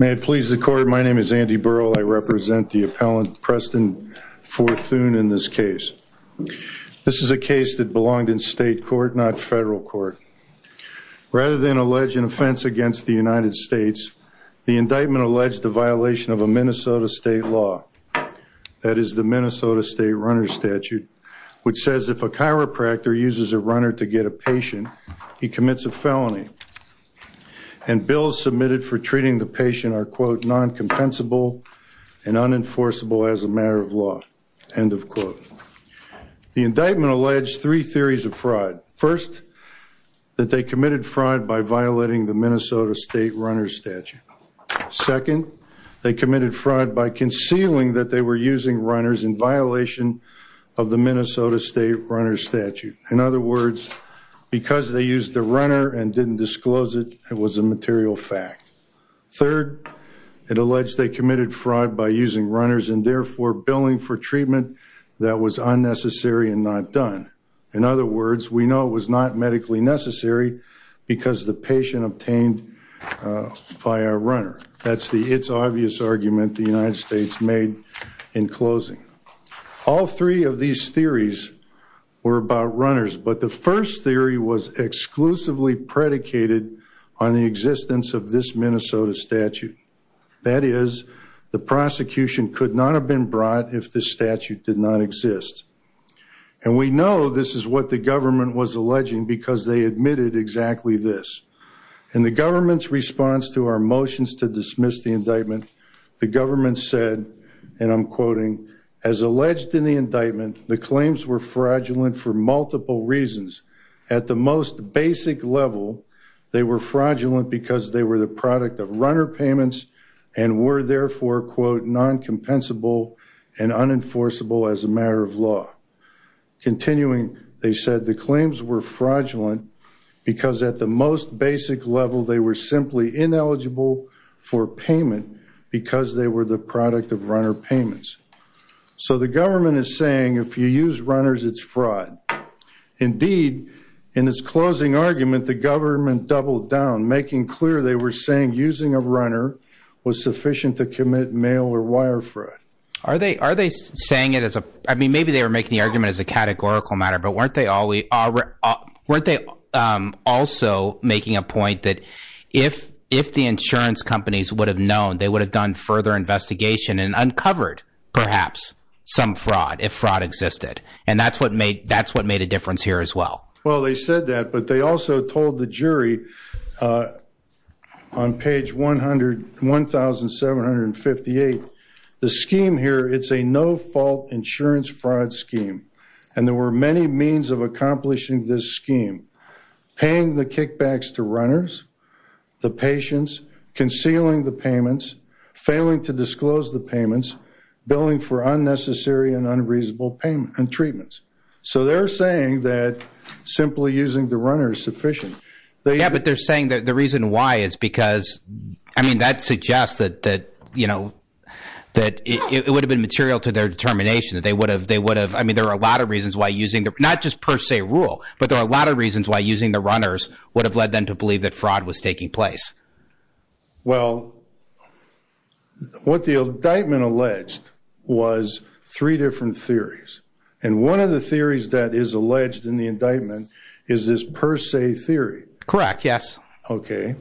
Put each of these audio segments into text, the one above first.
May it please the court, my name is Andy Burrell, I represent the appellant Preston Forthoon in this case. This is a case that belonged in state court, not federal court. Rather than allege an offense against the United States, the indictment alleged the violation of a Minnesota state law, that is the Minnesota state runner statute, which says if a chiropractor uses a runner to get a patient, he commits a felony. And bills submitted for treating the patient are quote non-compensable and unenforceable as a matter of law, end of quote. The indictment alleged three theories of fraud. First, that they committed fraud by violating the Minnesota state runner statute. Second, they committed fraud by concealing that they were using runners in violation of the Minnesota state runner statute. In other words, because they used the runner and didn't disclose it, it was a material fact. Third, it alleged they committed fraud by using runners and therefore billing for treatment that was unnecessary and not done. In other words, we know it was not medically necessary because the patient obtained via a runner. That's the it's obvious argument the United States made in closing. All three of these theories were about runners, but the first theory was exclusively predicated on the existence of this Minnesota statute. That is, the prosecution could not have been brought if this statute did not exist. And we know this is what the government was alleging because they admitted exactly this. In the government's response to our motions to dismiss the indictment, the government said, and I'm quoting, as alleged in the indictment, the claims were fraudulent for multiple reasons. At the most basic level, they were fraudulent because they were the product of runner payments and were therefore quote non-compensable and fraudulent because at the most basic level, they were simply ineligible for payment because they were the product of runner payments. So the government is saying if you use runners, it's fraud. Indeed, in its closing argument, the government doubled down, making clear they were saying using a runner was sufficient to commit mail or wire fraud. Are they are they saying it as a I mean, maybe they were making the argument as a categorical matter, but weren't they also making a point that if if the insurance companies would have known they would have done further investigation and uncovered perhaps some fraud if fraud existed and that's what made that's what made a difference here as well? Well, they said that, but they also told the jury on page one hundred one thousand seven hundred fifty eight. The scheme here, it's a no fault insurance fraud scheme, and there were many means of accomplishing this scheme, paying the kickbacks to runners, the patients concealing the payments, failing to disclose the payments, billing for unnecessary and unreasonable payment and treatments. So they're saying that simply using the runner is sufficient. But they're saying that the reason why is because I mean, that suggests that that, you know, that it would have been material to their determination that they would have they would have. I mean, there are a lot of reasons why using not just per se rule, but there are a lot of reasons why using the runners would have led them to believe that fraud was taking place. Well, what the indictment alleged was three different theories, and one of the theories that is Correct. Yes. Okay.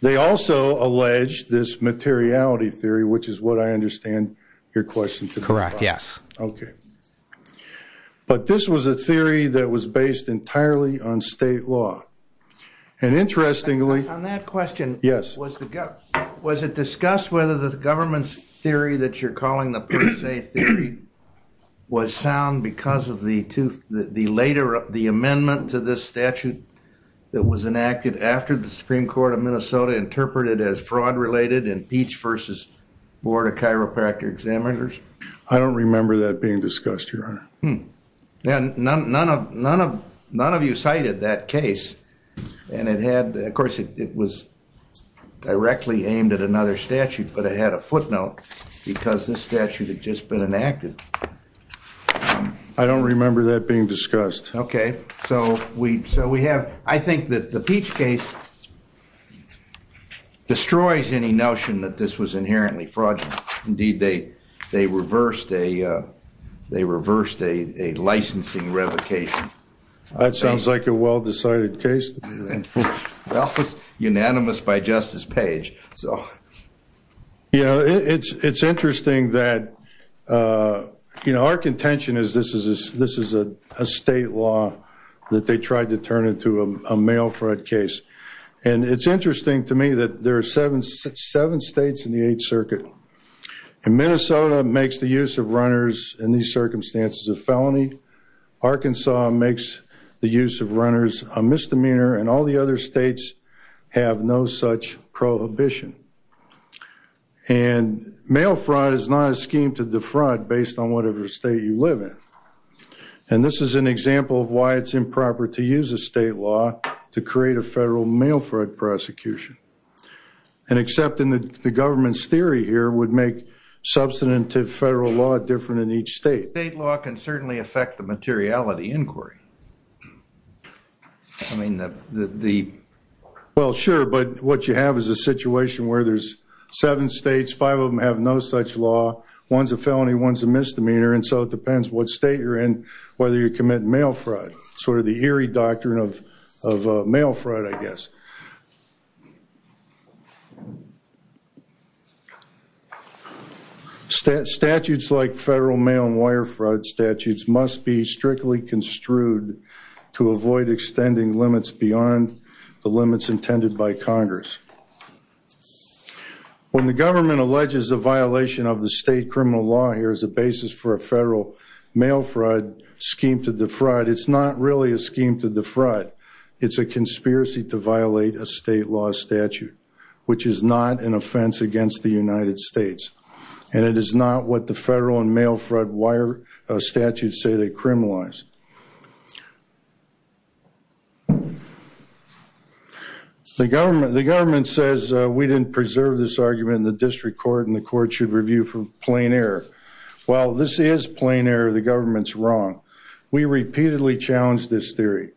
They also allege this materiality theory, which is what I understand your question. Correct. Yes. Okay. But this was a theory that was based entirely on state law. And interestingly, on that question, yes, was the was it discussed whether the government's theory that you're that was enacted after the Supreme Court of Minnesota interpreted as fraud related in Peach versus Board of Chiropractor Examiners? I don't remember that being discussed, Your Honor. Hmm. None of you cited that case. And it had, of course, it was directly aimed at another statute, but it had a footnote because this statute had just been enacted. I don't remember that being discussed. Okay. So we have, I think that the Peach case destroys any notion that this was inherently fraudulent. Indeed, they reversed a licensing revocation. That sounds like a well-decided case. Well, it was unanimous by Justice Page. So, you know, it's interesting that, you know, our contention is this is a state law that they tried to turn into a mail fraud case. And it's interesting to me that there are seven states in the Eighth Circuit. And Minnesota makes the use of runners in these circumstances a felony. Arkansas makes the use of runners a misdemeanor. And all the other states have no such prohibition. And mail fraud is not a scheme to defraud based on whatever state you live in. And this is an example of why it's improper to use a state law to create a federal mail fraud prosecution. And accepting the government's theory here would make substantive federal law different in each state. State law can certainly affect the materiality inquiry. I mean, the... Well, sure. But what you have is a situation where there's seven states, five of them have no such law. One's a felony, one's a misdemeanor. And so it depends what state you're in, whether you commit mail fraud. Sort of the eerie doctrine of mail fraud, I guess. Statutes like federal mail and wire fraud statutes must be strictly construed to avoid extending limits beyond the limits intended by Congress. When the government alleges the violation of the state criminal law here as a basis for a federal mail fraud scheme to defraud, it's not really a scheme to defraud. It's a conspiracy to violate a state law statute, which is not an offense against the United States. And it is not what the federal and mail fraud wire statutes say they criminalize. The government says we didn't preserve this argument in the district court and the court should review for plain error. Well, this is error. The government's wrong. We repeatedly challenged this theory.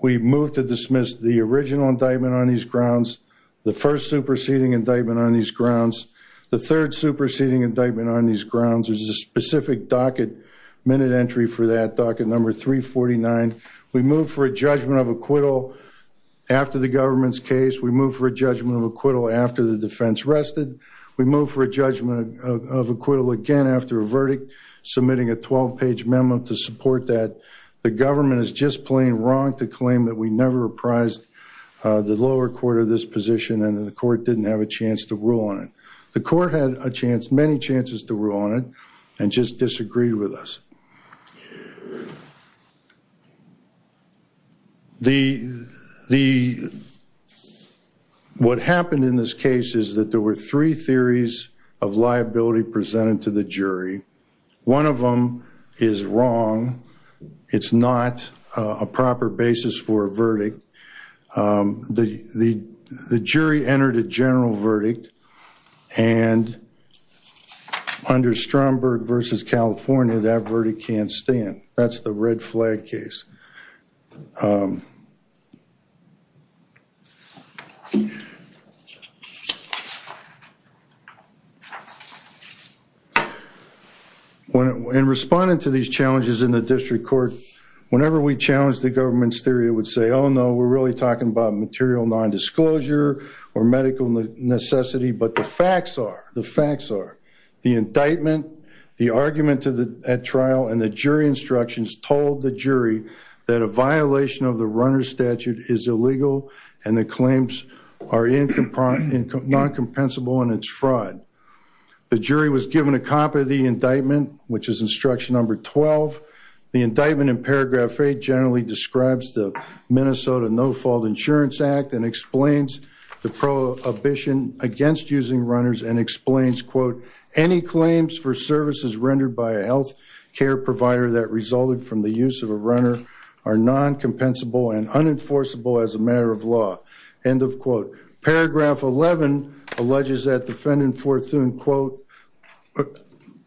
We moved to dismiss the original indictment on these grounds, the first superseding indictment on these grounds, the third superseding indictment on these grounds. There's a specific docket, minute entry for that, docket number 349. We moved for a judgment of acquittal after the government's case. We moved for a judgment of acquittal after the defense rested. We moved for a judgment of acquittal again after a verdict submitting a 12-page memo to support that. The government is just plain wrong to claim that we never apprised the lower court of this position and the court didn't have a chance to rule on it. The court had a chance, many chances to rule on it and just disagreed with us. What happened in this case is that there were three theories of liability presented to the jury. One of them is wrong. It's not a proper basis for a verdict. The jury entered a general and under Stromberg versus California, that verdict can't stand. That's the red flag case. In responding to these challenges in the district court, whenever we challenged the government's theory, it would say, oh no, we're really talking about material non-disclosure or medical necessity, but the facts are the indictment, the argument at trial, and the jury instructions told the jury that a violation of the runner statute is illegal and the claims are non-compensable and it's fraud. The jury was given a copy of the indictment, which is instruction number 12. The indictment in paragraph 8 generally describes the Minnesota No-Fault Insurance Act and explains the prohibition against using runners and explains, quote, any claims for services rendered by a health care provider that resulted from the use of a runner are non-compensable and unenforceable as a matter of law, end of quote. Paragraph 11 alleges that defendant Forthune, quote,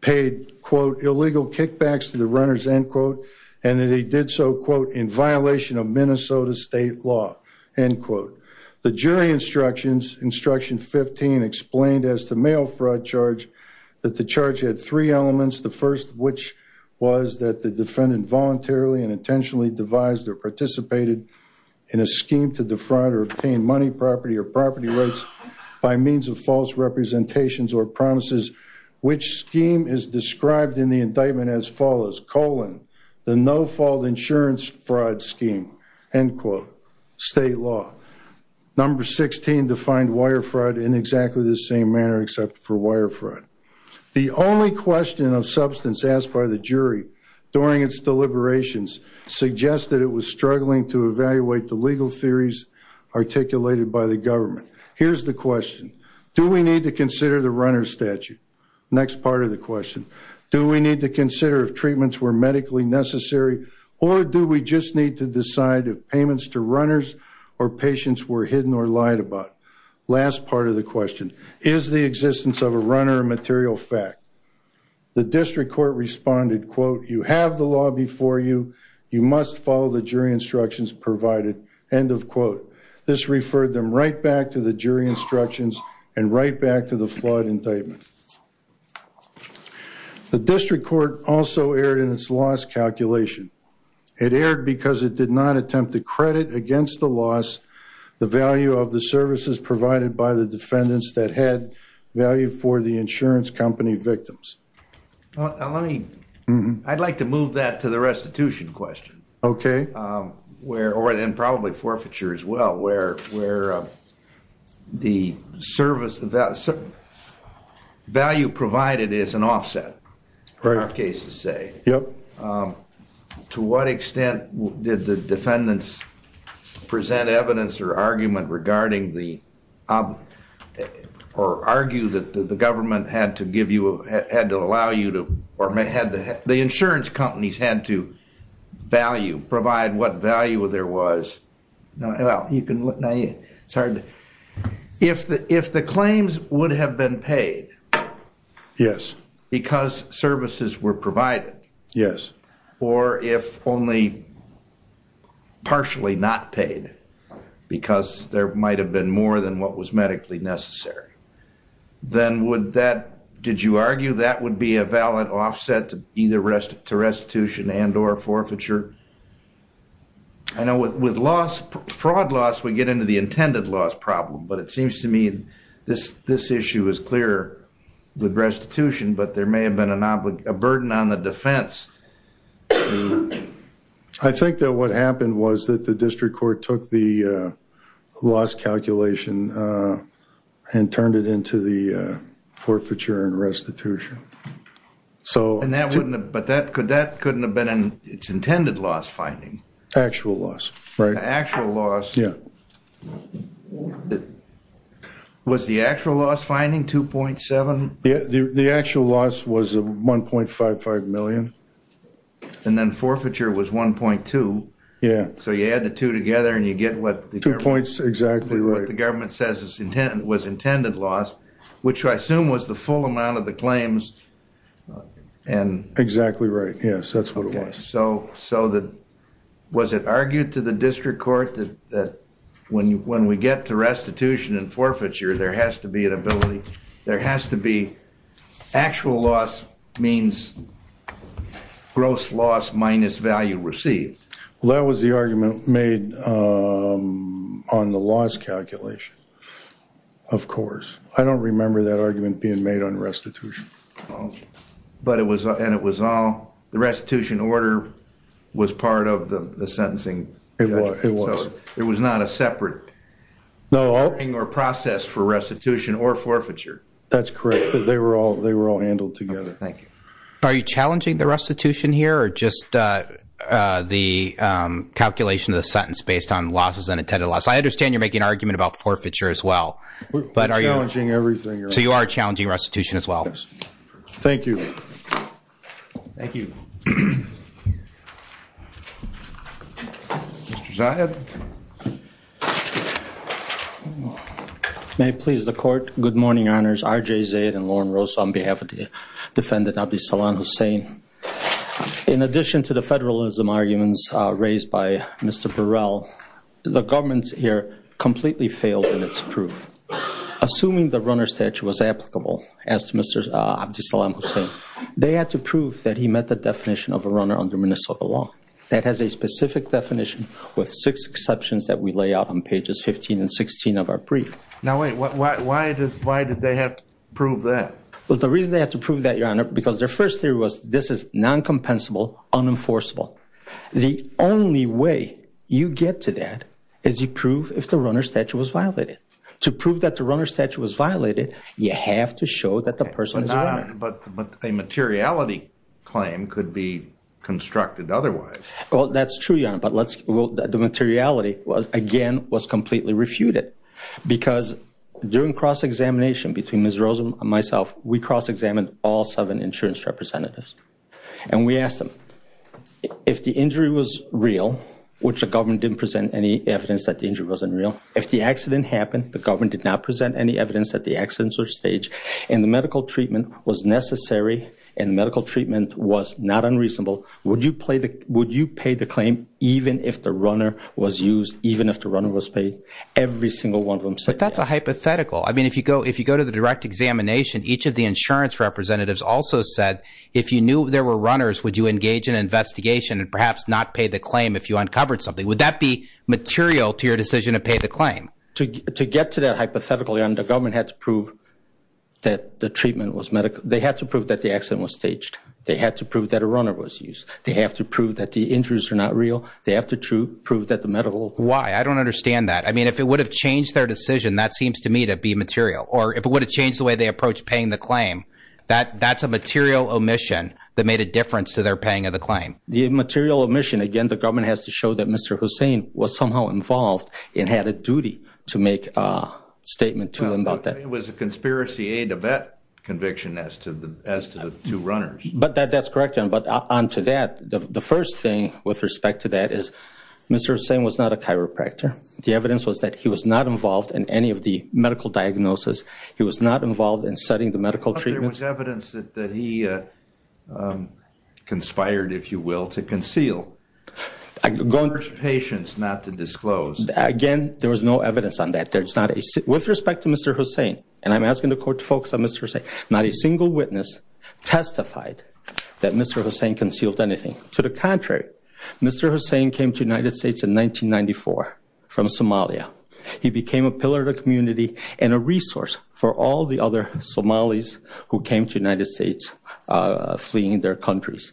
paid, quote, illegal kickbacks to the runners, end quote, and that he did so, quote, in violation of Minnesota state law, end quote. The jury instructions, instruction 15, explained as to mail fraud charge that the charge had three elements, the first of which was that the defendant voluntarily and intentionally devised or participated in a scheme to defraud or obtain money, property, or property rights by means of false representations or promises, which scheme is described in the indictment as follows, colon, the no-fault insurance fraud scheme, end quote, state law. Number 16 defined wire fraud in exactly the same manner except for wire fraud. The only question of substance asked by the jury during its deliberations suggested it was struggling to evaluate the legal theories articulated by the government. Here's the question. Do we need to consider the runner statute? Next part of the or do we just need to decide if payments to runners or patients were hidden or lied about? Last part of the question, is the existence of a runner a material fact? The district court responded, quote, you have the law before you, you must follow the jury instructions provided, end of quote. This referred them right back to the jury instructions and right back to the loss calculation. It erred because it did not attempt to credit against the loss the value of the services provided by the defendants that had value for the insurance company victims. Let me, I'd like to move that to the restitution question. Okay. Where, or then probably forfeiture as well, where the service, the value provided is an offset, in our case to say. Yep. To what extent did the defendants present evidence or argument regarding the, or argue that the government had to give you, had to allow you to, or had the insurance companies had to value, provide what value there was. If the claims would have been paid. Yes. Because services were provided. Yes. Or if only partially not paid because there might have been more than what was medically necessary. Then would that, did you argue that would be a valid offset to restitution and or forfeiture? I know with loss, fraud loss, we get into the intended loss problem, but it seems to me this issue is clear with restitution, but there may have been a burden on the defense. I think that what happened was that the district court took the loss calculation and turned it into the forfeiture and restitution. So. And that wouldn't have, but that could, that couldn't have been its intended loss finding. Actual loss. Right. Actual loss. Yeah. Was the actual loss finding 2.7? Yeah, the actual loss was 1.55 million. And then forfeiture was 1.2. Yeah. So you add the two together and you get what. Two points, exactly right. What the government says was intended loss, which I assume was the full amount of the claims and. Exactly right. Yes, that's what it was. Okay. So that, was it argued to the district court that when we get to restitution and forfeiture, there has to be an ability, there has to be actual loss means gross loss minus value received. Well, that was the loss calculation, of course. I don't remember that argument being made on restitution. But it was, and it was all, the restitution order was part of the sentencing. It was. It was not a separate. No. Or process for restitution or forfeiture. That's correct. They were all, they were all handled together. Thank you. Are you challenging the restitution here or just the calculation of the sentence based on losses and intended loss? I understand you're making an argument about forfeiture as well. We're challenging everything. So you are challenging restitution as well. Thank you. Thank you. Mr. Zahid. May it please the court. Good morning, honors. R.J. Zaid and Lauren Rose on behalf of the Abdeslam Hussein. In addition to the federalism arguments raised by Mr. Burrell, the government here completely failed in its proof. Assuming the runner statute was applicable as to Mr. Abdeslam Hussein, they had to prove that he met the definition of a runner under Minnesota law. That has a specific definition with six exceptions that we lay out on pages 15 and 16 of our brief. Now, wait, why did they have to prove that? Well, the reason they had to prove that, because their first theory was this is non-compensable, unenforceable. The only way you get to that is you prove if the runner statute was violated. To prove that the runner statute was violated, you have to show that the person is a runner. But a materiality claim could be constructed otherwise. Well, that's true, your honor, but the materiality again was completely refuted because during cross-examination between Ms. Rose and myself, we cross-examined all insurance representatives. And we asked them, if the injury was real, which the government didn't present any evidence that the injury wasn't real, if the accident happened, the government did not present any evidence that the accidents were staged, and the medical treatment was necessary, and the medical treatment was not unreasonable, would you pay the claim even if the runner was used, even if the runner was paid? Every single one of them said that. But that's a hypothetical. I mean, if you go to the direct examination, each of the insurance representatives also said, if you knew there were runners, would you engage an investigation and perhaps not pay the claim if you uncovered something? Would that be material to your decision to pay the claim? To get to that hypothetical, your honor, the government had to prove that the treatment was medical. They had to prove that the accident was staged. They had to prove that a runner was used. They have to prove that the injuries are not real. They have to prove that the medical... Why? I don't understand that. I mean, if it would have changed their decision, that seems to me to be material. Or if it would have changed the way they approach paying the claim, that's a material omission that made a difference to their paying of the claim. The material omission, again, the government has to show that Mr. Hussain was somehow involved and had a duty to make a statement to them about that. It was a conspiracy aid to vet conviction as to the two runners. But that's correct. But onto that, the first thing with respect to that is Mr. Hussain was not a chiropractor. The evidence was that he was not involved in any of the medical diagnosis. He was not involved in studying the medical treatments. But there was evidence that he conspired, if you will, to conceal. For his patients not to disclose. Again, there was no evidence on that. There's not a... With respect to Mr. Hussain, and I'm asking the court to focus on Mr. Hussain, not a single witness testified that Mr. Hussain concealed anything. To the contrary, Mr. Hussain came to United States in 1994 from Somalia. He became a pillar of the community and a resource for all the other Somalis who came to United States fleeing their countries.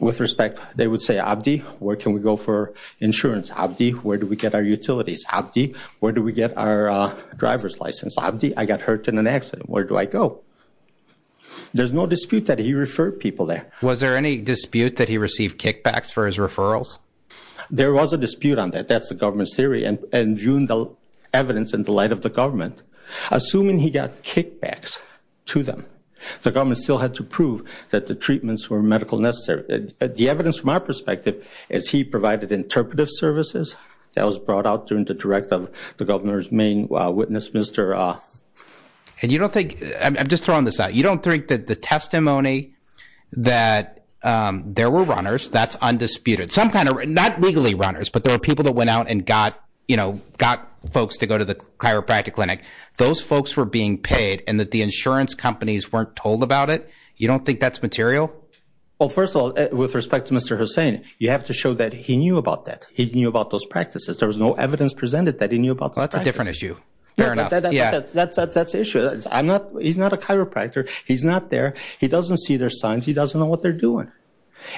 With respect, they would say, Abdi, where can we go for insurance? Abdi, where do we get our utilities? Abdi, where do we get our driver's license? Abdi, I got hurt in an accident. Where do I go? There's no dispute that he referred people there. Was there any dispute that he received kickbacks for his referrals? There was a dispute on that. That's the government's theory. And viewing the light of the government, assuming he got kickbacks to them, the government still had to prove that the treatments were medical necessary. The evidence from our perspective is he provided interpretive services that was brought out during the direct of the governor's main witness, Mr... And you don't think... I'm just throwing this out. You don't think that the testimony that there were runners, that's undisputed. Some kind of... Not legally runners, but there were people that went out and got folks to go to the chiropractic clinic. Those folks were being paid and that the insurance companies weren't told about it. You don't think that's material? Well, first of all, with respect to Mr. Hussain, you have to show that he knew about that. He knew about those practices. There was no evidence presented that he knew about those practices. That's a different issue. Fair enough. Yeah. That's the issue. He's not a chiropractor. He's not there. He doesn't see their signs. He doesn't know what they're doing.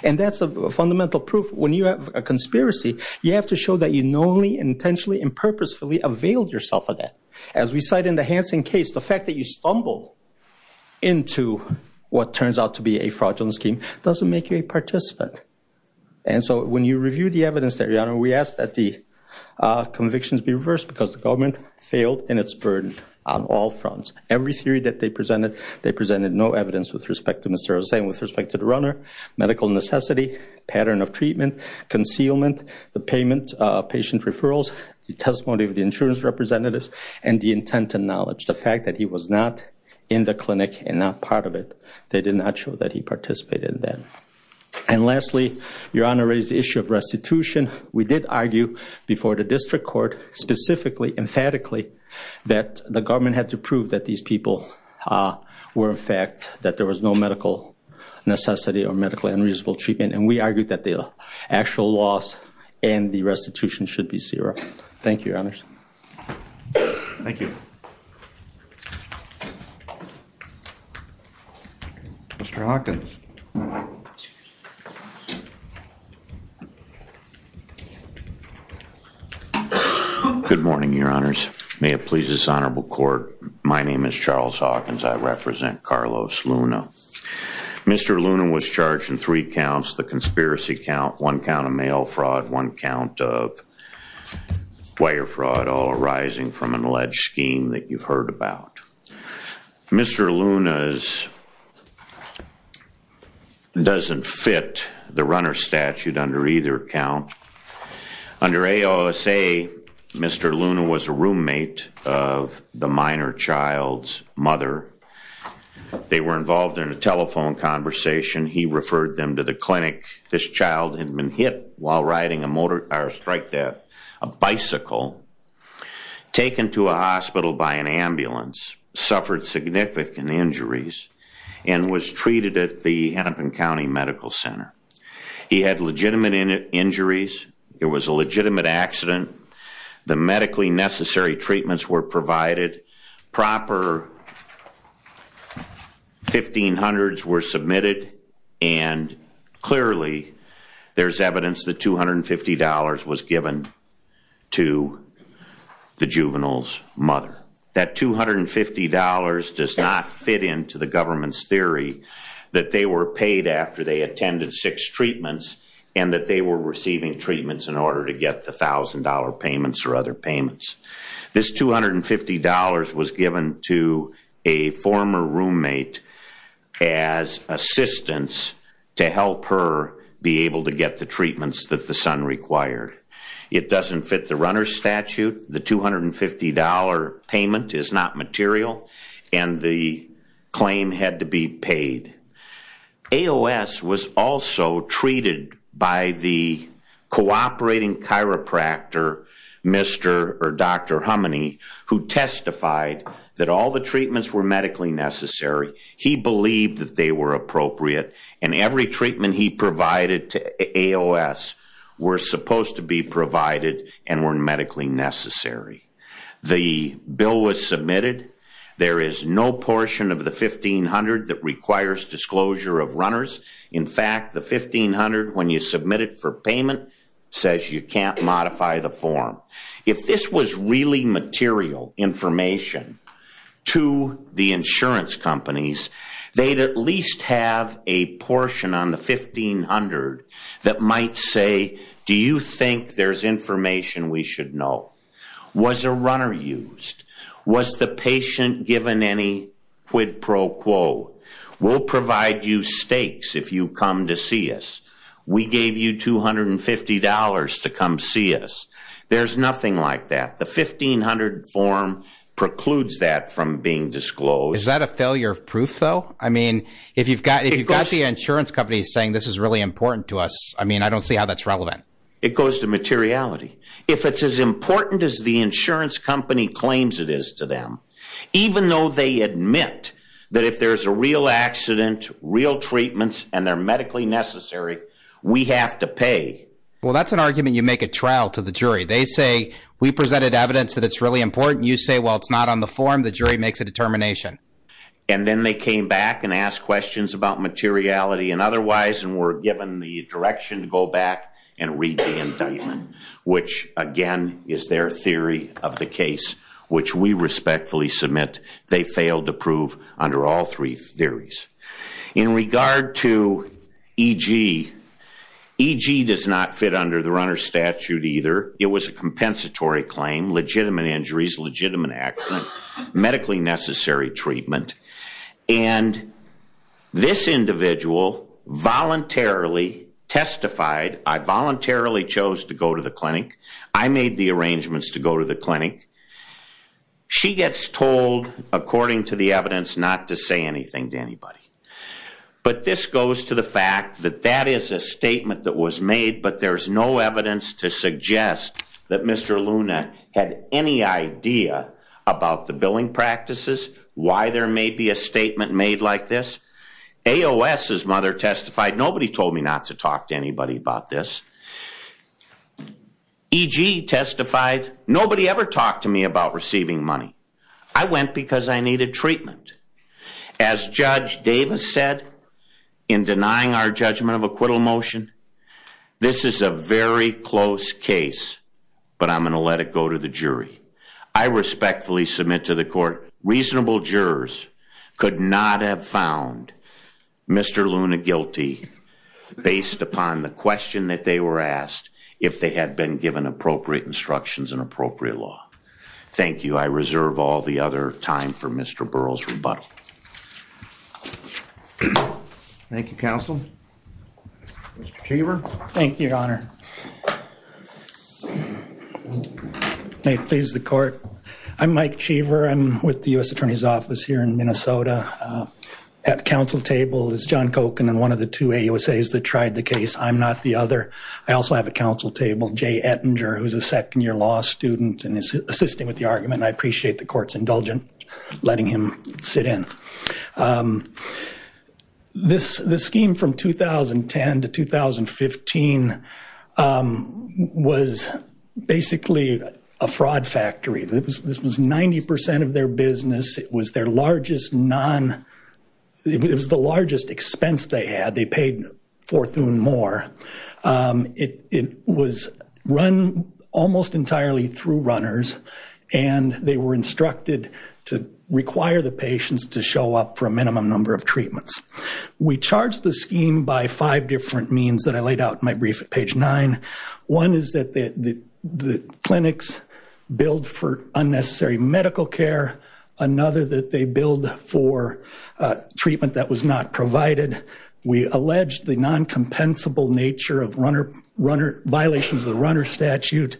And that's a fundamental proof. When you have a conspiracy, you have to show that you knowingly, intentionally, and purposefully availed yourself of that. As we cite in the Hansen case, the fact that you stumble into what turns out to be a fraudulent scheme doesn't make you a participant. And so when you review the evidence there, your honor, we ask that the convictions be reversed because the government failed in its burden on all fronts. Every theory that they presented, they presented no evidence with respect to Mr. Hussain, with respect to the runner, medical necessity, pattern of treatment, concealment, the payment of patient referrals, the testimony of the insurance representatives, and the intent and knowledge. The fact that he was not in the clinic and not part of it, they did not show that he participated in that. And lastly, your honor raised the issue of restitution. We did argue before the district court specifically, emphatically, that the government had to prove that these people were in fact, that there was no medical necessity or medical unreasonable treatment. And we argued that the actual loss and the restitution should be zero. Thank you, your honors. Thank you. Mr. Hawkins. Good morning, your honors. May it please this honorable court. My name is Charles Hawkins. I represent Carlos Luna. Mr. Luna was charged in three counts, the conspiracy count, one count of mail fraud, one count of wire fraud, all arising from an alleged scheme that you've heard about. Mr. Luna doesn't fit the runner statute under either count. Under AOSA, Mr. Luna was a roommate of the minor child's mother. They were involved in a telephone conversation. He referred them to the clinic. This child had been hit while riding a motorcycle, or strike that, a bicycle, taken to a hospital by an ambulance, suffered significant injuries, and was treated at the Hennepin County Medical Center. He had legitimate injuries. It was a legitimate accident. The medically necessary treatments were provided. Proper 1500s were submitted. And clearly, there's evidence that $250 was given to the juvenile's mother. That $250 does not fit into the government's theory that they were paid after they attended six treatments and that they were receiving treatments in order to get the thousand dollar payments or other payments. This $250 was given to a former roommate as assistance to help her be able to get the treatments that the son required. It doesn't fit the runner statute. The $250 payment is not material, and the claim had to be paid. AOS was also treated by the cooperating chiropractor, Mr. or Dr. Hummony, who testified that all the treatments were medically necessary. He believed that they were appropriate, and every treatment he provided to AOS were supposed to be provided and were medically necessary. The bill was submitted. There is no portion of the 1500 that requires disclosure of runners. In fact, the 1500, when you submit it for payment, says you can't modify the form. If this was really material information to the insurance companies, they'd at least have a portion on the 1500 that might say, do you think there's information we should know? Was a runner used? Was the patient given any quid pro quo? We'll provide you stakes if you come to see us. We gave you $250 to come see us. There's nothing like that. The 1500 form precludes that from being disclosed. Is that a failure of proof though? I mean, if you've got the insurance companies saying this is really important to us, I mean, I don't see how that's relevant. It goes to materiality. If it's as important as the insurance company claims it is to them, even though they admit that if there's a real accident, real treatments, and they're medically necessary, we have to pay. Well, that's an argument you make at trial to the jury. They say, we presented evidence that it's really important. You say, well, it's not on the form. The jury makes a determination. And then they came back and asked questions about materiality and otherwise, and were given the direction to go back and read the indictment, which again is their theory of the case, which we respectfully submit they failed to prove under all three theories. In regard to EG, EG does not fit under the runner's statute either. It was a compensatory claim, legitimate injuries, legitimate accident, medically necessary treatment. And this individual voluntarily testified, I voluntarily chose to go to the clinic. I made the arrangements to go to the clinic. She gets told, according to the evidence, not to say anything to anybody. But this goes to the fact that that is a statement that was made, but there's no evidence to suggest that Mr. Luna had any idea about the billing practices, why there may be a statement made like this. AOS's mother testified, nobody told me not to talk to anybody about this. EG testified, nobody ever talked to me about receiving money. I went because I needed treatment. As Judge Davis said, in denying our judgment of acquittal motion, this is a very close case, but I'm going to let it go to the jury. I respectfully submit to the court, reasonable jurors could not have found Mr. Luna guilty based upon the question that they were asked, if they had been given appropriate instructions and appropriate law. Thank you. I reserve all the other time for Mr. Burrell's rebuttal. Thank you, counsel. Mr. Cheever. Thank you, your honor. May it please the court. I'm Mike Cheever. I'm with the U.S. Attorney's Office here in Minnesota. At the council table is John Kochen and one of the two AOSAs that tried the case. I'm not the other. I also have a council table, Jay Ettinger, who's a second year law student and is assisting with the argument. I appreciate the court's indulgence in letting him sit in. This scheme from 2010 to 2015 was basically a fraud factory. This was 90% of their more. It was run almost entirely through runners and they were instructed to require the patients to show up for a minimum number of treatments. We charged the scheme by five different means that I laid out in my brief at page nine. One is that the clinics billed for unnecessary medical care. Another that they billed for treatment that was not provided. We alleged the non-compensable nature of violations of the runner statute.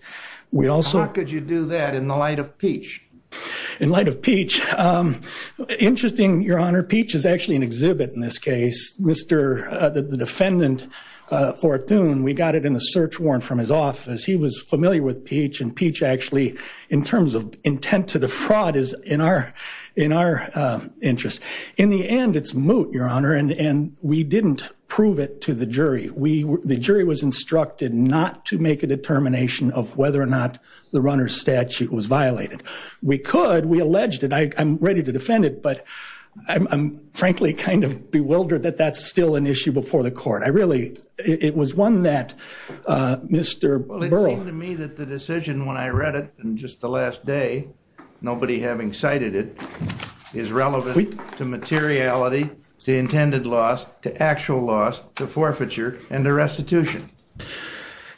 How could you do that in the light of Peach? In light of Peach. Interesting, your honor. Peach is actually an exhibit in this case. Mr. The defendant, Fortune, we got it in the search warrant from his office. He was familiar with Peach and Peach actually in terms of intent to defraud is in our interest. In the end, it's moot, your honor. We didn't prove it to the jury. The jury was instructed not to make a determination of whether or not the runner statute was violated. We could. We alleged it. I'm ready to defend it, but I'm frankly kind of bewildered that that's still an issue before the court. I really, it was one that Mr. Burrell. It seemed to me that the decision when I read it in just the last day, nobody having cited it, is relevant to materiality, to intended loss, to actual loss, to forfeiture, and to restitution.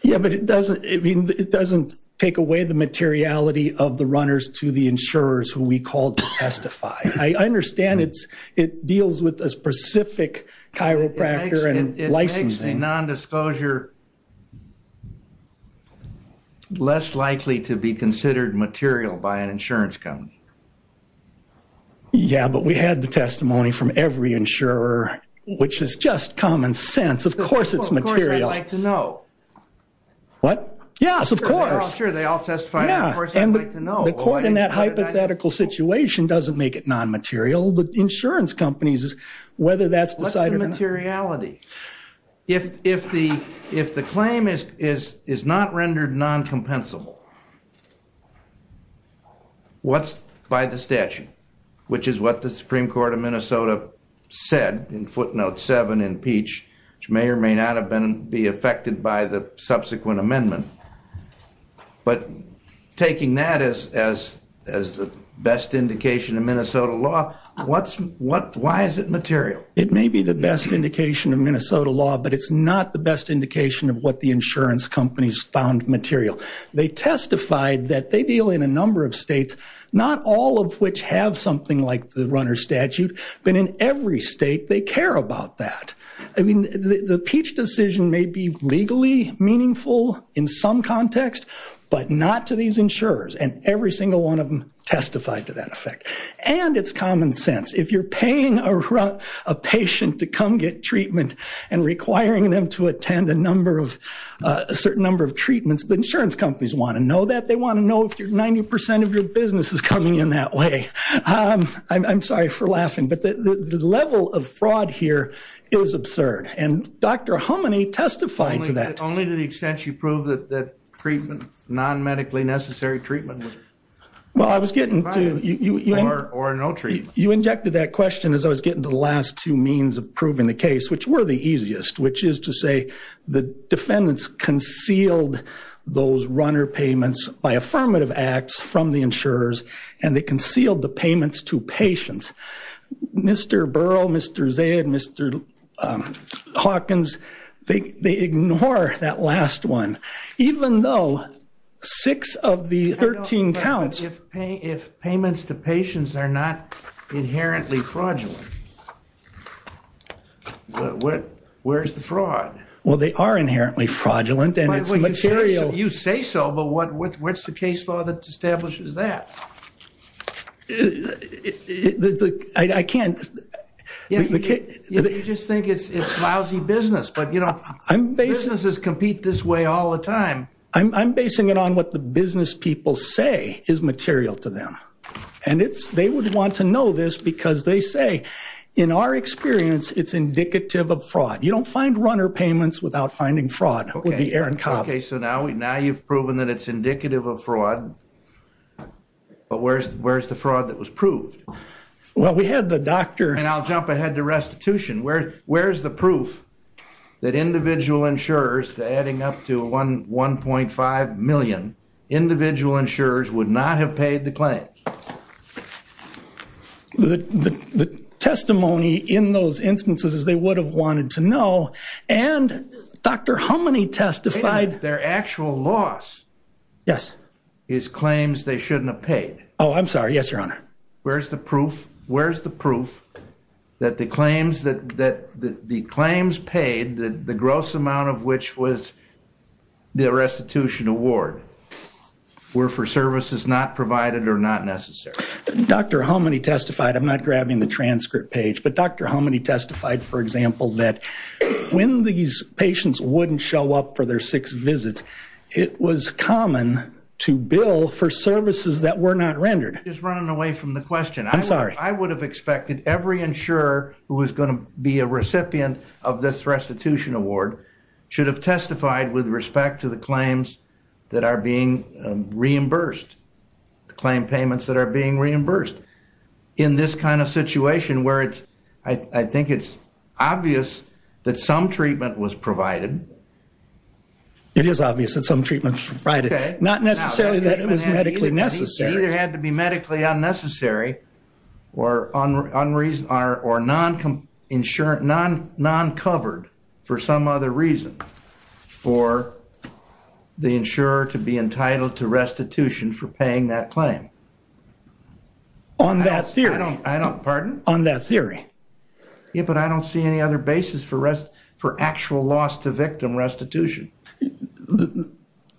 Yeah, but it doesn't, I mean it doesn't take away the materiality of the runners to the insurers who we called to testify. I understand it's, with a specific chiropractor and licensing. It makes the nondisclosure less likely to be considered material by an insurance company. Yeah, but we had the testimony from every insurer, which is just common sense. Of course, it's material. Of course, they'd like to know. What? Yes, of course. Sure, they all testify. Yeah, and the court in that hypothetical situation doesn't make it non-material. The whether that's decided. What's the materiality? If the claim is not rendered non-compensable, what's by the statute? Which is what the Supreme Court of Minnesota said in footnote seven in Peach, which may or may not have been be affected by the subsequent amendment. But taking that as the best indication of Minnesota law, why is it material? It may be the best indication of Minnesota law, but it's not the best indication of what the insurance companies found material. They testified that they deal in a number of states, not all of which have something like the runner statute, but in every state they care about that. I mean, the Peach decision may be testified to that effect. And it's common sense. If you're paying a patient to come get treatment and requiring them to attend a number of, a certain number of treatments, the insurance companies want to know that. They want to know if 90% of your business is coming in that way. I'm sorry for laughing, but the level of fraud here is absurd. And Dr. Homany testified to that. Only to the extent you prove that, that treatment, non-medically necessary treatment. Well, I was getting to, you injected that question as I was getting to the last two means of proving the case, which were the easiest, which is to say the defendants concealed those runner payments by affirmative acts from the insurers and they concealed the payments to that last one. Even though six of the 13 counts. If payments to patients are not inherently fraudulent, where's the fraud? Well, they are inherently fraudulent and it's material. You say so, but what's the case law that establishes that? I can't. You just think it's lousy business, but you know, businesses compete this way all the time. I'm, I'm basing it on what the business people say is material to them. And it's, they would want to know this because they say in our experience, it's indicative of fraud. You don't find runner payments without finding fraud would be Aaron Cobb. Okay. So now we, now you've proven that it's indicative of fraud, but where's, where's the fraud that was proved? Well, we had the doctor. And I'll jump ahead to restitution. Where, where's the proof that individual insurers to adding up to one, 1.5 million individual insurers would not have paid the claim. The testimony in those instances, they would have wanted to know. And Dr. How many testified their actual loss is claims they shouldn't have paid. Oh, I'm sorry. Yes, that the claims that, that the claims paid the gross amount of which was the restitution award were for services not provided or not necessary. Dr. How many testified, I'm not grabbing the transcript page, but Dr. How many testified, for example, that when these patients wouldn't show up for their six visits, it was common to bill for services that were not rendered. Just running away from the question. I'm sorry. I would have expected every insurer who was going to be a recipient of this restitution award should have testified with respect to the claims that are being reimbursed. The claim payments that are being reimbursed in this kind of situation where it's, I think it's obvious that some treatment was provided. It is obvious that some treatment provided, not necessarily that it was medically necessary. It either had to be medically unnecessary or non covered for some other reason for the insurer to be entitled to restitution for paying that claim. On that theory. I don't, pardon? On that theory. Yeah, but I don't see any other basis for actual loss to victim restitution.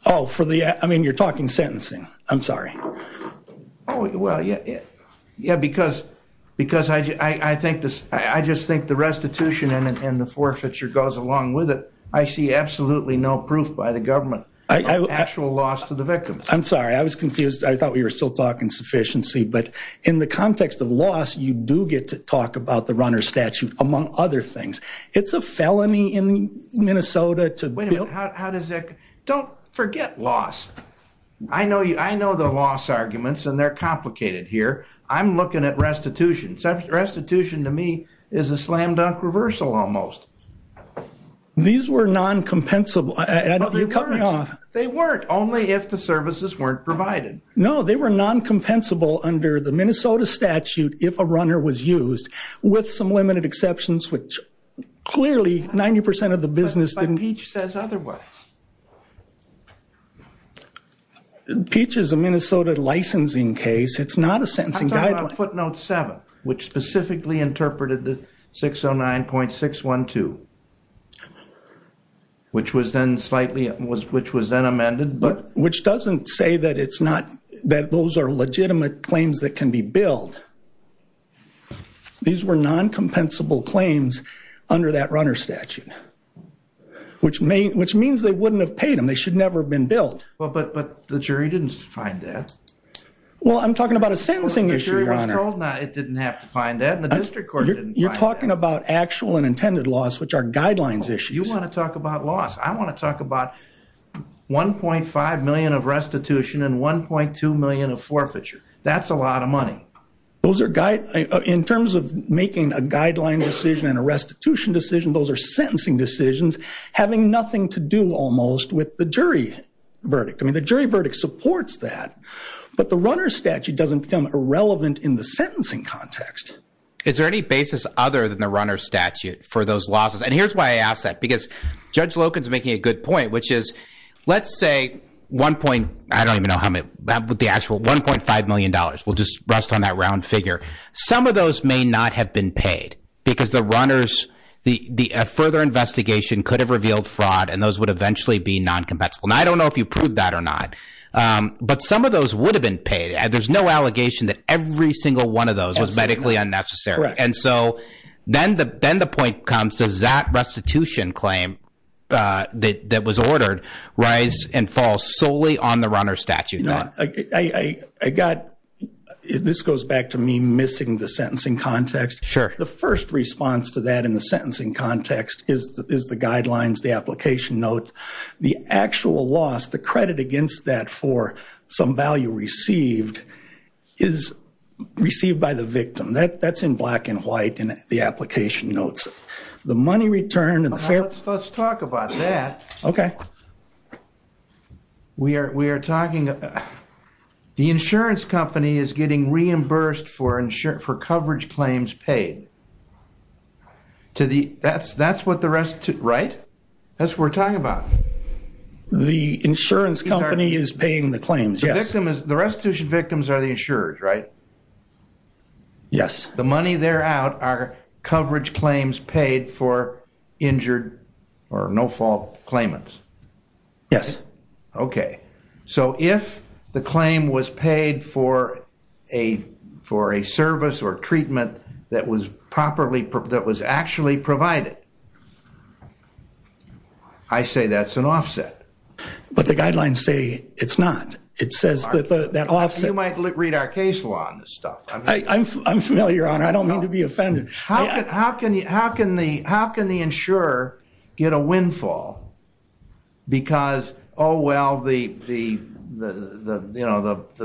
Oh, for the, I mean, you're talking sentencing. I'm sorry. Oh, well, yeah. Yeah, because I just think the restitution and the forfeiture goes along with it. I see absolutely no proof by the government of actual loss to the victim. I'm sorry. I was confused. I thought we were still talking sufficiency. But in the context of loss, you do get to talk about the runner statute, among other things. It's a felony in Minnesota to build. How does that? Don't forget loss. I know you. I know the loss arguments and they're complicated here. I'm looking at restitution. Restitution to me is a slam dunk reversal almost. These were non compensable. They weren't only if the services weren't provided. No, they were non-compensable under the Minnesota statute if a runner was used, with some limited exceptions, which clearly 90% of the business didn't. But Peach says otherwise. Peach is a Minnesota licensing case. It's not a sentencing guideline. I'm talking about footnote seven, which specifically interpreted the 609.612, which was then slightly, which was then those are legitimate claims that can be billed. These were non-compensable claims under that runner statute, which means they wouldn't have paid them. They should never have been billed. Well, but the jury didn't find that. Well, I'm talking about a sentencing issue, Your Honor. It didn't have to find that in the district court. You're talking about actual and intended loss, which are guidelines issues. You want to talk about loss. I want to talk about 1.5 million of restitution and 1.2 million of forfeiture. That's a lot of money. In terms of making a guideline decision and a restitution decision, those are sentencing decisions having nothing to do almost with the jury verdict. I mean, the jury verdict supports that. But the runner statute doesn't become irrelevant in the sentencing context. Is there any basis other than the runner statute for those losses? And here's why I ask that, because Judge Loken's making a good point, which is, let's say 1.5 million dollars. We'll just rest on that round figure. Some of those may not have been paid because the further investigation could have revealed fraud and those would eventually be non-compensable. I don't know if you proved that or not. But some of those would have been paid. There's no allegation that every single one of those was medically unnecessary. And so then the point comes, does that restitution claim that was ordered rise and fall solely on the runner statute? This goes back to me missing the sentencing context. The first response to that in the sentencing context is the guidelines, the application note. The actual loss, the credit against that for some value received, is received by the victim. That's in black and white in the money returned. Let's talk about that. Okay. The insurance company is getting reimbursed for coverage claims paid. That's what the rest, right? That's what we're talking about. The insurance company is paying the claims, yes. The restitution victims are the insurers, right? Yes. The money there out are coverage claims paid for injured or no fault claimants. Yes. Okay. So if the claim was paid for a service or treatment that was properly, that was actually provided, I say that's an offset. But the guidelines say it's not. It says that offset- You might read our case law on this stuff. I'm familiar, Your Honor. I don't mean to be offended. How can the insurer get a windfall because, oh, well, the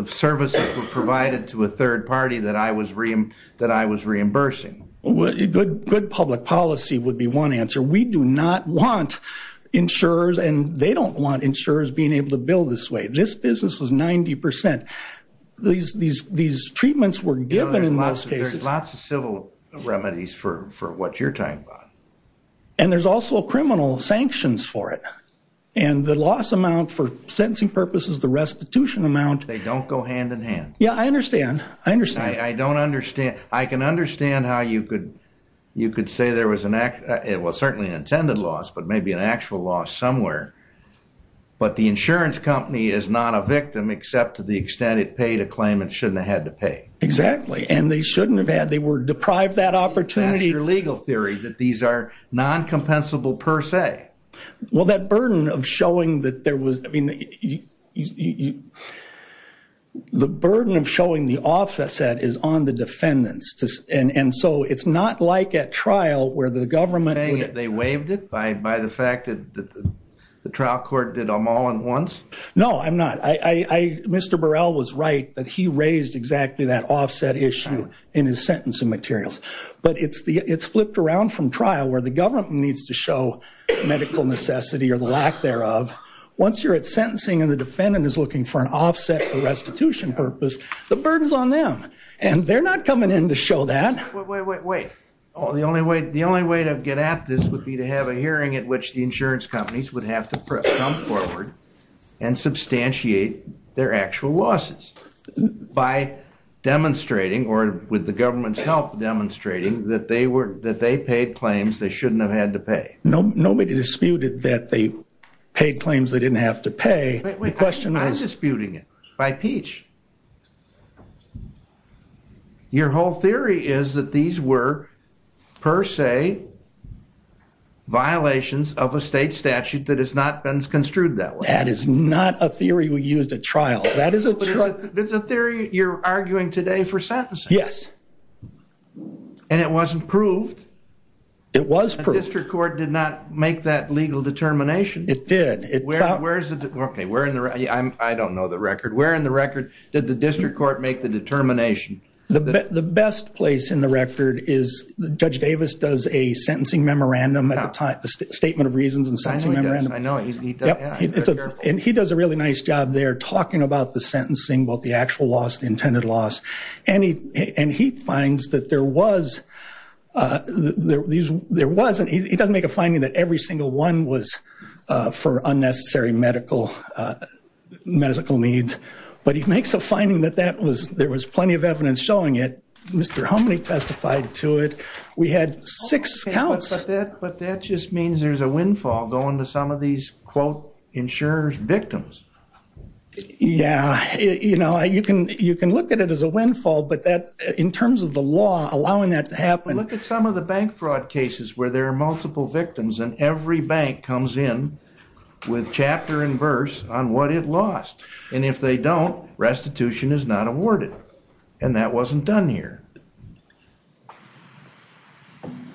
services were provided to a third party that I was reimbursing? Good public policy would be one answer. We do not want insurers, and they don't want insurers being able to bill this way. This business was 90%. These treatments were given in most cases. There's lots of civil remedies for what you're talking about. And there's also criminal sanctions for it. And the loss amount for sentencing purposes, the restitution amount- They don't go hand in hand. Yeah, I understand. I understand. I don't understand. I can understand how you could say there was certainly an intended loss, but maybe an actual loss somewhere. But the insurance company is not a victim except to the extent it paid a claim it shouldn't have had to pay. Exactly. And they shouldn't have had. They were deprived that opportunity- That's your legal theory, that these are non-compensable per se. Well, that burden of showing that there was- I mean, you- The burden of showing the offset is on the defendants. And so it's not like at trial, where the government- Are you saying that they waived it by the fact that the trial court did them all at once? No, I'm not. Mr. Burrell was right that he raised exactly that offset issue in his sentencing materials. But it's flipped around from trial, where the government needs to show medical necessity or the lack thereof. Once you're at sentencing and the defendant is looking for an offset for restitution purpose, the burden's on them. And they're not coming in to show that. Wait, wait, wait, wait. The only way to get at this would be to have a hearing at which the insurance companies would have to come forward and substantiate their actual losses by demonstrating, or with the government's help demonstrating, that they paid claims they shouldn't have had to pay. Nobody disputed that they paid claims they didn't have to pay. The question is- I'm disputing it by peach. Your whole theory is that these were, per se, violations of a state statute that has not been construed that way. That is not a theory we used at trial. That is a- But it's a theory you're arguing today for sentencing. Yes. And it wasn't proved. It was proved. The district court did not make that legal determination. It did. Where's the- Okay, where in the- I don't know the record. Where in the record did the district court make the determination? The best place in the record is Judge Davis does a sentencing memorandum at the time, a statement of reasons and sentencing memorandum. I know he does. I know he does. Yeah, he's very careful. And he does a really nice job there talking about the sentencing, about the actual loss, intended loss. And he finds that there was- He doesn't make a finding that every single one was for unnecessary medical needs. But he makes a finding that there was plenty of evidence showing it. Mr. Humney testified to it. We had six counts- But that just means there's a windfall going to some of these, quote, insurers' victims. Yeah. You know, you can look at it as a windfall, but that, in terms of the law, allowing that to happen- But look at some of the bank fraud cases where there are multiple victims and every bank comes in with chapter and verse on what it lost. And if they don't, restitution is not awarded. And that wasn't done here.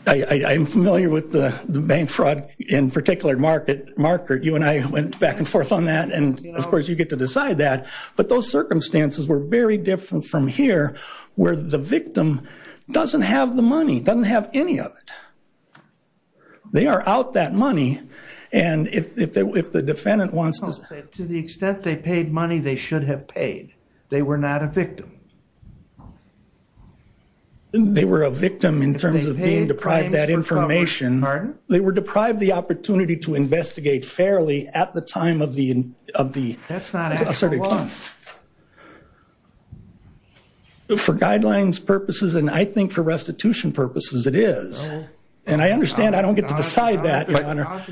I'm familiar with the bank fraud, in particular, Markert. You and I went back and forth on that, and, of course, you get to decide that. But those circumstances were very different from here, where the victim doesn't have the money, doesn't have any of it. They are out that money, and if the defendant wants to- To the extent they paid money, they should have paid. They were not a victim. They were a victim in terms of being deprived that information. Pardon? They were deprived the opportunity to investigate fairly at the time of the- That's not actual loss. For guidelines purposes, and I think for restitution purposes, it is. And I understand I don't get to decide that, Your Honor.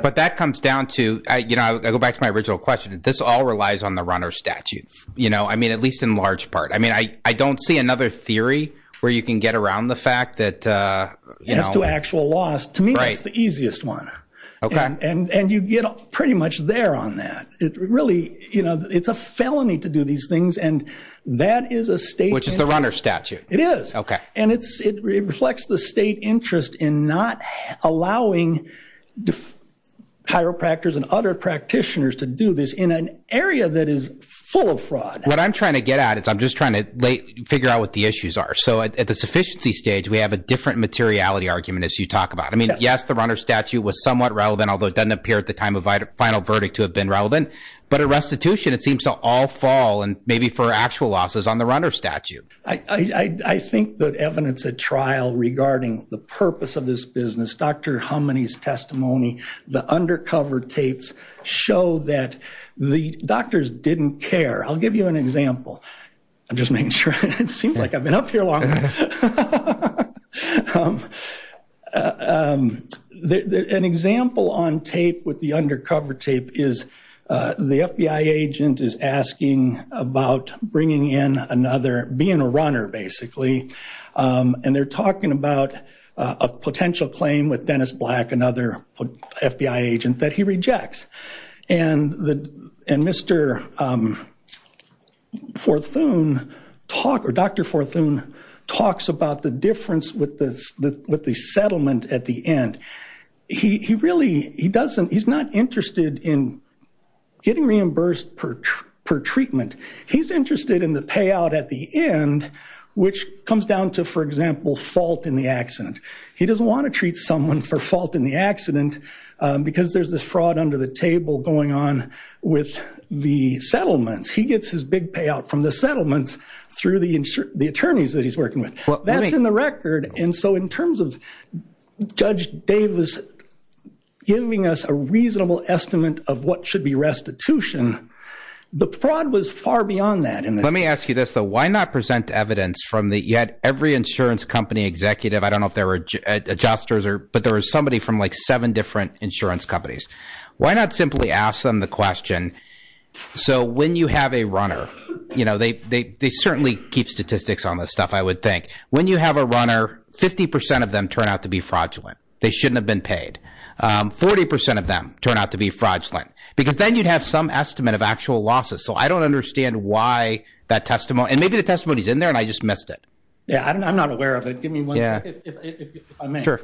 But that comes down to- I go back to my original question. This all relies on the runner statute, you know? I mean, at least in large part. I mean, I don't see another theory where you can get around the fact that- As to actual loss. Right. To me, that's the easiest one. And you get pretty much there on that. It's a felony to do these things, and that is a state- Which is the runner statute. It is. Okay. And it reflects the state interest in not allowing chiropractors and other practitioners to do this in an area that is full of fraud. What I'm trying to get at is I'm just trying to figure out what the issues are. So at the sufficiency stage, we have a different materiality argument, as you talk about. I mean, yes, the although it doesn't appear at the time of final verdict to have been relevant. But at restitution, it seems to all fall, and maybe for actual losses, on the runner statute. I think that evidence at trial regarding the purpose of this business, Dr. Hummony's testimony, the undercover tapes show that the doctors didn't care. I'll give you an example. I'm just making sure. It seems like I've been up here long enough. An example on tape with the undercover tape is the FBI agent is asking about bringing in another, being a runner, basically. And they're talking about a potential claim with Dennis Black, another FBI agent, that he rejects. And Mr. Forthoon, or Dr. Forthoon, talks about the difference with the settlement at the end. He really, he doesn't, he's not interested in getting reimbursed per treatment. He's interested in the payout at the end, which comes down to, for example, fault in the accident. He doesn't want to treat someone for the fault in the accident because there's this fraud under the table going on with the settlements. He gets his big payout from the settlements through the attorneys that he's working with. That's in the record. And so in terms of Judge Davis giving us a reasonable estimate of what should be restitution, the fraud was far beyond that. Let me ask you this, though. Why not present evidence from the, you had every insurance company executive, I don't know if there were adjusters, but there was somebody from like seven different insurance companies. Why not simply ask them the question, so when you have a runner, they certainly keep statistics on this stuff, I would think. When you have a runner, 50% of them turn out to be fraudulent. They shouldn't have been paid. 40% of them turn out to be fraudulent. Because then you'd have some estimate of actual losses. So I don't understand why that testimony, and maybe the testimony is there and I just missed it. Yeah, I'm not aware of it. Give me one second if I may. Sure.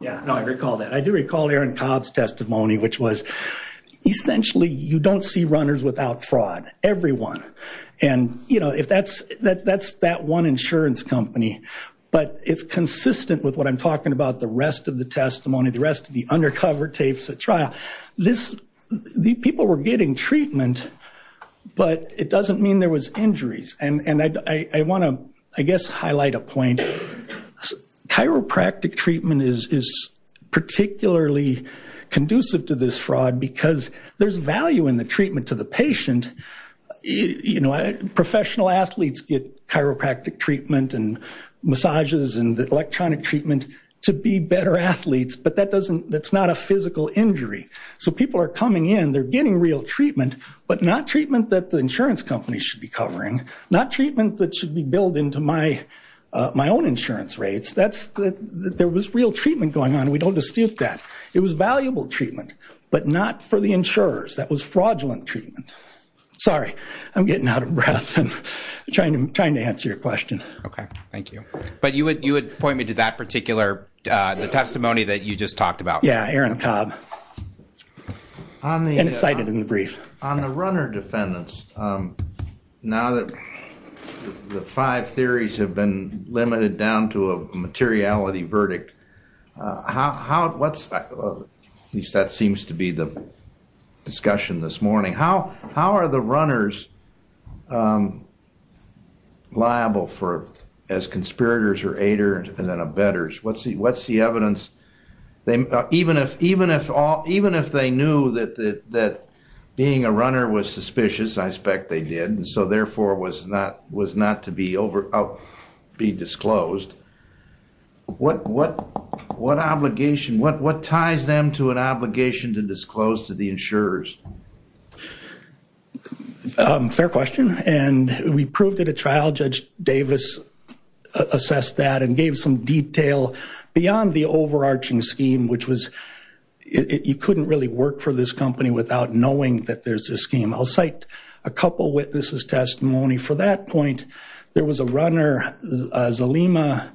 Yeah, no, I recall that. I do recall Aaron Cobb's testimony, which was essentially you don't see runners without fraud, everyone. And if that's that one insurance company, but it's consistent with what I'm talking about, the rest of the testimony, the rest of the undercover tapes at But it doesn't mean there was injuries. And I want to, I guess, highlight a point. Chiropractic treatment is particularly conducive to this fraud, because there's value in the treatment to the patient. You know, professional athletes get chiropractic treatment and massages and electronic treatment to be better athletes, but that doesn't, that's not a physical injury. So people are coming in, they're getting real treatment, but not treatment that the insurance companies should be covering. Not treatment that should be billed into my own insurance rates. That's, there was real treatment going on. We don't dispute that. It was valuable treatment, but not for the insurers. That was fraudulent treatment. Sorry, I'm getting out of breath and trying to answer your question. Okay, thank you. But you would point me to that and cite it in the brief. On the runner defendants, now that the five theories have been limited down to a materiality verdict, how, what's, at least that seems to be the discussion this morning, how are the runners liable for, as conspirators or aiders and then even if they knew that being a runner was suspicious, I expect they did, and so therefore was not to be over, be disclosed, what obligation, what ties them to an obligation to disclose to the insurers? Fair question. And we proved it at trial. Judge Davis assessed that and gave some detail beyond the overarching scheme, which was, you couldn't really work for this company without knowing that there's this scheme. I'll cite a couple witnesses' testimony. For that point, there was a runner, Zalima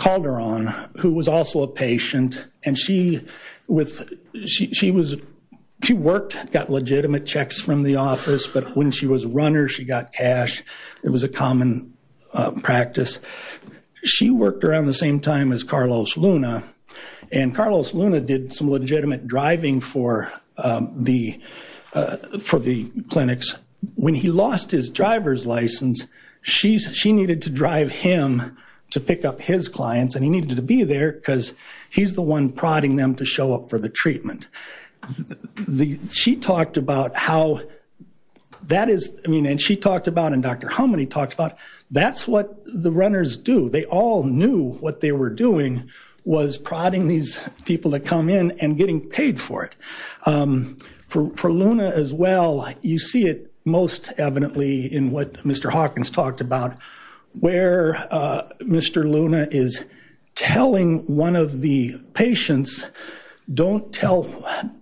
Calderon, who was also a patient, and she was, she worked, got legitimate checks from the office, but when she was a runner, she got cash. It was a common practice. She worked around the same time as Carlos Luna, and Carlos Luna did some legitimate driving for the, for the clinics. When he lost his driver's license, she needed to drive him to pick up his clients, and he needed to be there because he's the one prodding them to show up for the treatment. She talked about how that is, I mean, and she talked about, and Dr. Homany talked about, that's what the runners do. They all knew what they were doing was prodding these people to come in and getting paid for it. For Luna as well, you see it most evidently in what Mr. Hawkins talked about, where Mr. Luna is telling one of the patients, don't tell,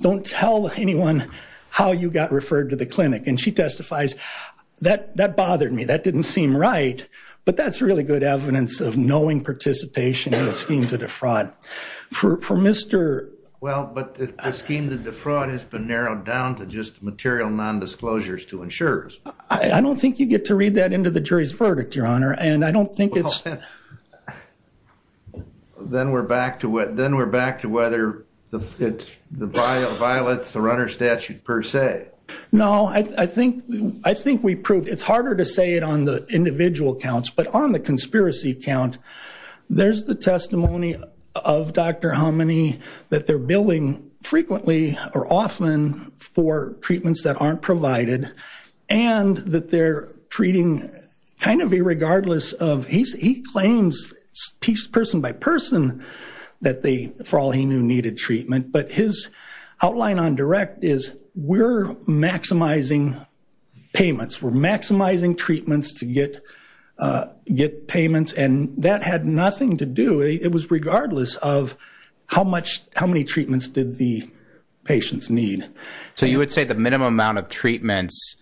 don't tell anyone how you got referred to the clinic, and she testifies, that, that bothered me. That didn't seem right, but that's really good evidence of knowing participation in the scheme to defraud. For, for Mr. Well, but the scheme to defraud has been narrowed down to just material non-disclosures to insurers. I don't think you get to read that into the jury's verdict, your honor, and I don't think it's... Then we're back to what, then we're back to whether it's the violence, the runner statute per se. No, I think, I think we proved, it's harder to say it on the individual counts, but on the conspiracy count, there's the testimony of Dr. Homany that they're billing frequently or often for treatments that aren't provided, and that they're treating kind of irregardless of, he claims piece, person by person that they, for all he knew, needed treatment, but his outline on direct is we're maximizing payments, we're maximizing treatments to get, get payments, and that had nothing to do, it was regardless of how much, how many treatments did the patients need. So you would say the minimum amount of treatments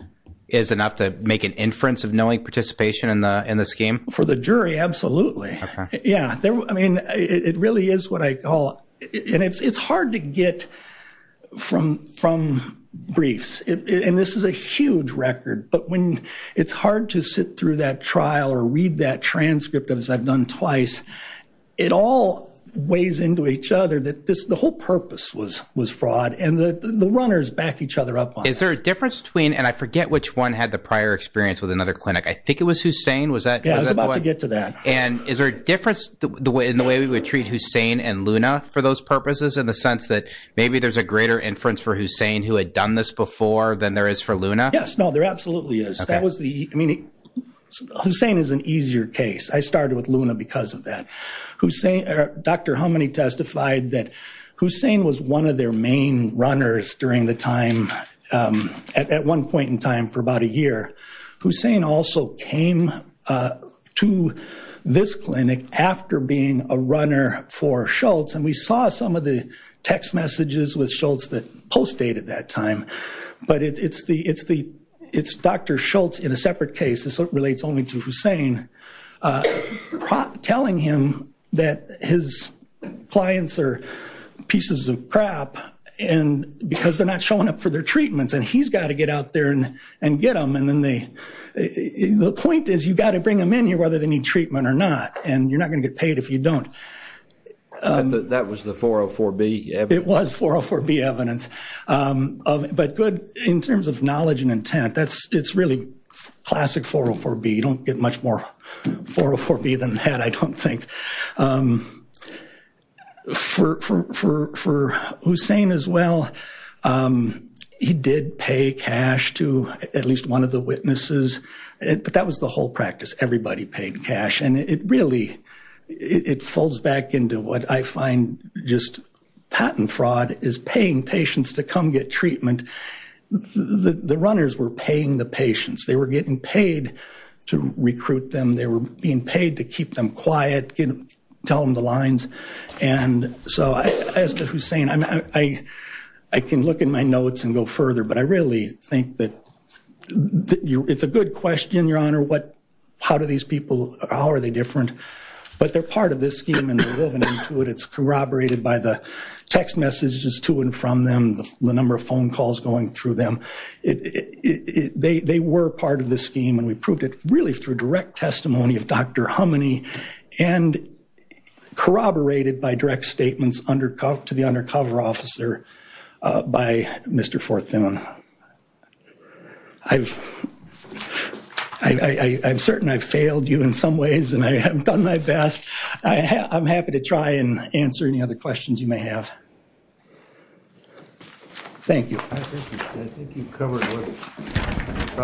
is enough to make an inference of knowing participation in the, for the jury, absolutely. Yeah. I mean, it really is what I call, and it's, it's hard to get from, from briefs and this is a huge record, but when it's hard to sit through that trial or read that transcript as I've done twice, it all weighs into each other that this, the whole purpose was, was fraud and the runners back each other up. Is there a difference between, and I forget which one had the prior experience with another clinic. I think it was Hussain, was that? Yeah, I was about to get to that. And is there a difference in the way we would treat Hussain and Luna for those purposes in the sense that maybe there's a greater inference for Hussain who had done this before than there is for Luna? Yes, no, there absolutely is. That was the, I mean, Hussain is an easier case. I started with Luna because of that. Hussain, Dr. Homany testified that Hussain was one of their main runners during the time, at one point in time for about a year. Hussain also came to this clinic after being a runner for Schultz and we saw some of the text messages with Schultz that post dated that time. But it's the, it's the, it's Dr. Schultz in a separate case, this relates only to Hussain, telling him that his clients are pieces of crap and because they're not showing up for their treatments and he's got to get out there and get them. And then they, the point is you got to bring them in here whether they need treatment or not and you're not going to get paid if you don't. That was the 404B evidence? It was 404B evidence. But good in terms of knowledge and intent, that's, it's really classic 404B. You don't get much more 404B than that, I don't think. For Hussain as well, he did pay cash to at least one of the witnesses, but that was the whole practice. Everybody paid cash and it really, it folds back into what I find just patent fraud is paying patients to come get treatment. The runners were paying the patients, they were getting paid to recruit them, they were being paid to keep them quiet, you know, tell them the lines. And so as to Hussain, I can look in my notes and go further, but I really think that it's a good question, your honor, what, how do these people, how are they different? But they're part of this scheme and they're woven into it. It's corroborated by the text messages to and from them, the number of phone calls going through them. They were part of this scheme and we proved it really through direct testimony of Dr. Hummony and corroborated by direct statements to the undercover officer by Mr. Forth-Thune. I'm certain I've failed you in some ways and I haven't done my best. I'm happy to try and answer any other questions you may have. Thank you. I think you've covered what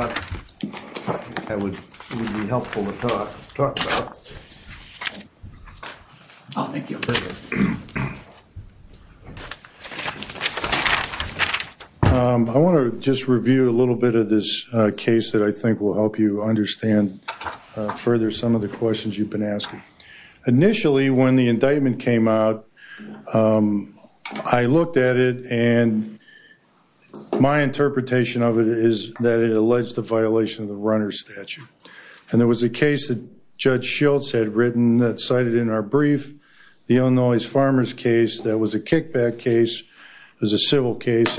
I thought would be helpful to talk about. Oh, thank you. I want to just review a little bit of this case that I think will help you understand further some of the questions you've been asking. Initially, when the indictment came out, I looked at it and my interpretation of it is that it alleged the violation of the runner statute. There was a case that Judge Schultz had written that cited in our brief, the Illinois farmers case, that was a kickback case. It was a civil case.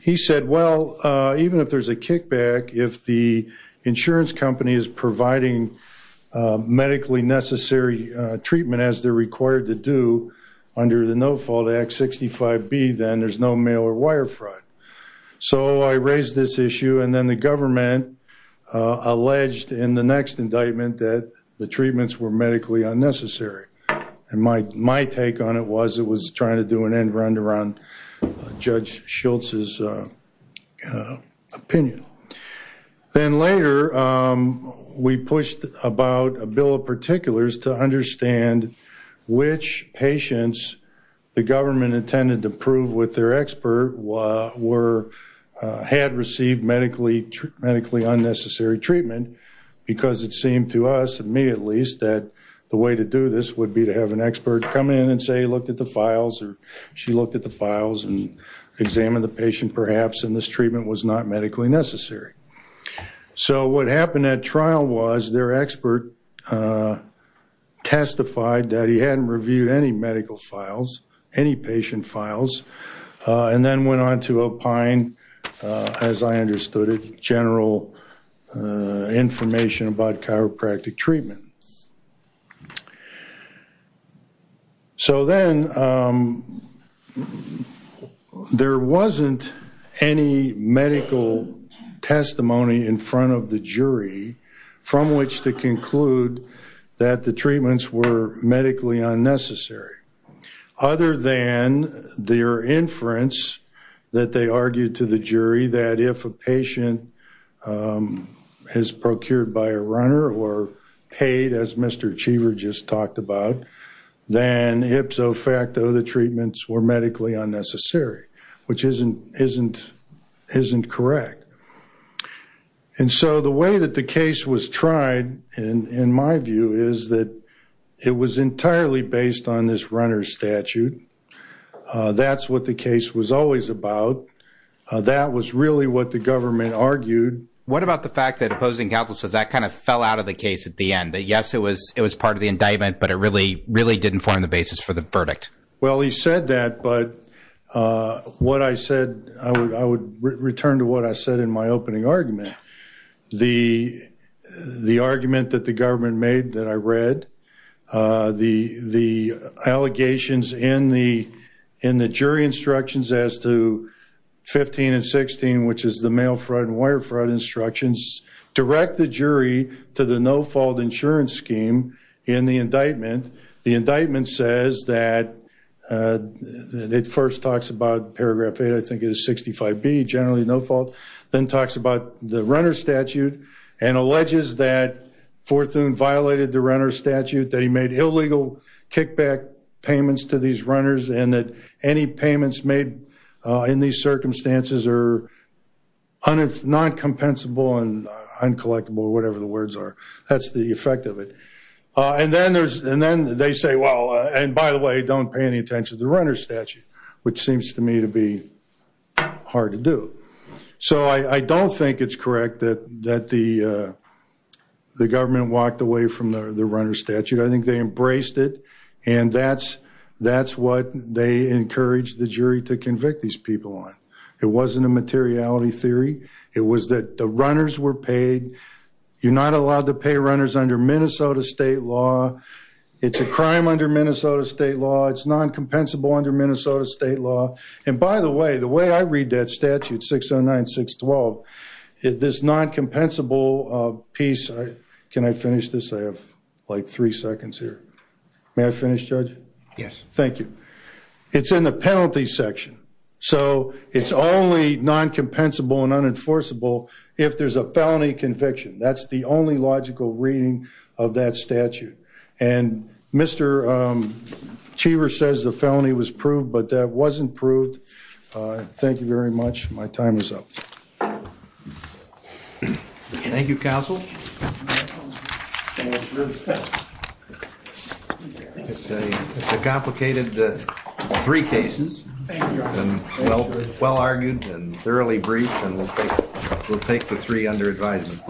He said, well, even if there's a kickback, if the insurance company is providing medically necessary treatment as they're required to do under the no-fault Act 65B, then there's no mail or wire fraud. So I raised this issue and then the government alleged in the next indictment that the treatments were medically unnecessary. My take on it was it was trying to do an end run to run Judge Schultz's opinion. Then later, we pushed about a bill of particulars to understand which patients the government intended to prove with their expert had received medically unnecessary treatment because it seemed to us, to me at least, that the way to do this would be to have an expert come in and say he looked at the files or she looked at the files and examined the patient perhaps and this treatment was not medically necessary. So what happened at trial was their files and then went on to opine, as I understood it, general information about chiropractic treatment. So then there wasn't any medical testimony in front of the jury from which to their inference that they argued to the jury that if a patient is procured by a runner or paid as Mr. Cheever just talked about, then ipso facto the treatments were medically unnecessary, which isn't correct. And so the way that the case was tried, in my view, is that it was entirely based on this runner statute. That's what the case was always about. That was really what the government argued. What about the fact that opposing counsel says that kind of fell out of the case at the end, that yes, it was it was part of the indictment, but it really, really didn't form the basis for the verdict? Well, he said that, but what I said, I would return to what I said in my opening argument. The argument that the government made that I read, the allegations in the jury instructions as to 15 and 16, which is the mail fraud and wire fraud instructions, direct the jury to the no fault insurance scheme in the indictment. The indictment says that it first talks about runner statute and alleges that Forthune violated the runner statute, that he made illegal kickback payments to these runners, and that any payments made in these circumstances are non-compensable and uncollectible, or whatever the words are. That's the effect of it. And then they say, well, and by the way, don't pay any attention to the runner statute, which seems to me to be hard to do. So I don't think it's correct that the government walked away from the runner statute. I think they embraced it, and that's what they encouraged the jury to convict these people on. It wasn't a materiality theory. It was that the runners were paid. You're not allowed to pay runners under Minnesota state law. It's a crime under Minnesota state law. It's non-compensable under Minnesota state law. And by the way, the way I read that statute, 609612, this non-compensable piece, can I finish this? I have like three seconds here. May I finish, Judge? Yes. Thank you. It's in the penalty section. So it's only non-compensable and unenforceable if there's a felony conviction. That's the only Achiever says the felony was proved, but that wasn't proved. Thank you very much. My time is up. Thank you, counsel. It's a complicated three cases and well argued and thoroughly briefed, and we'll take the three under advisement.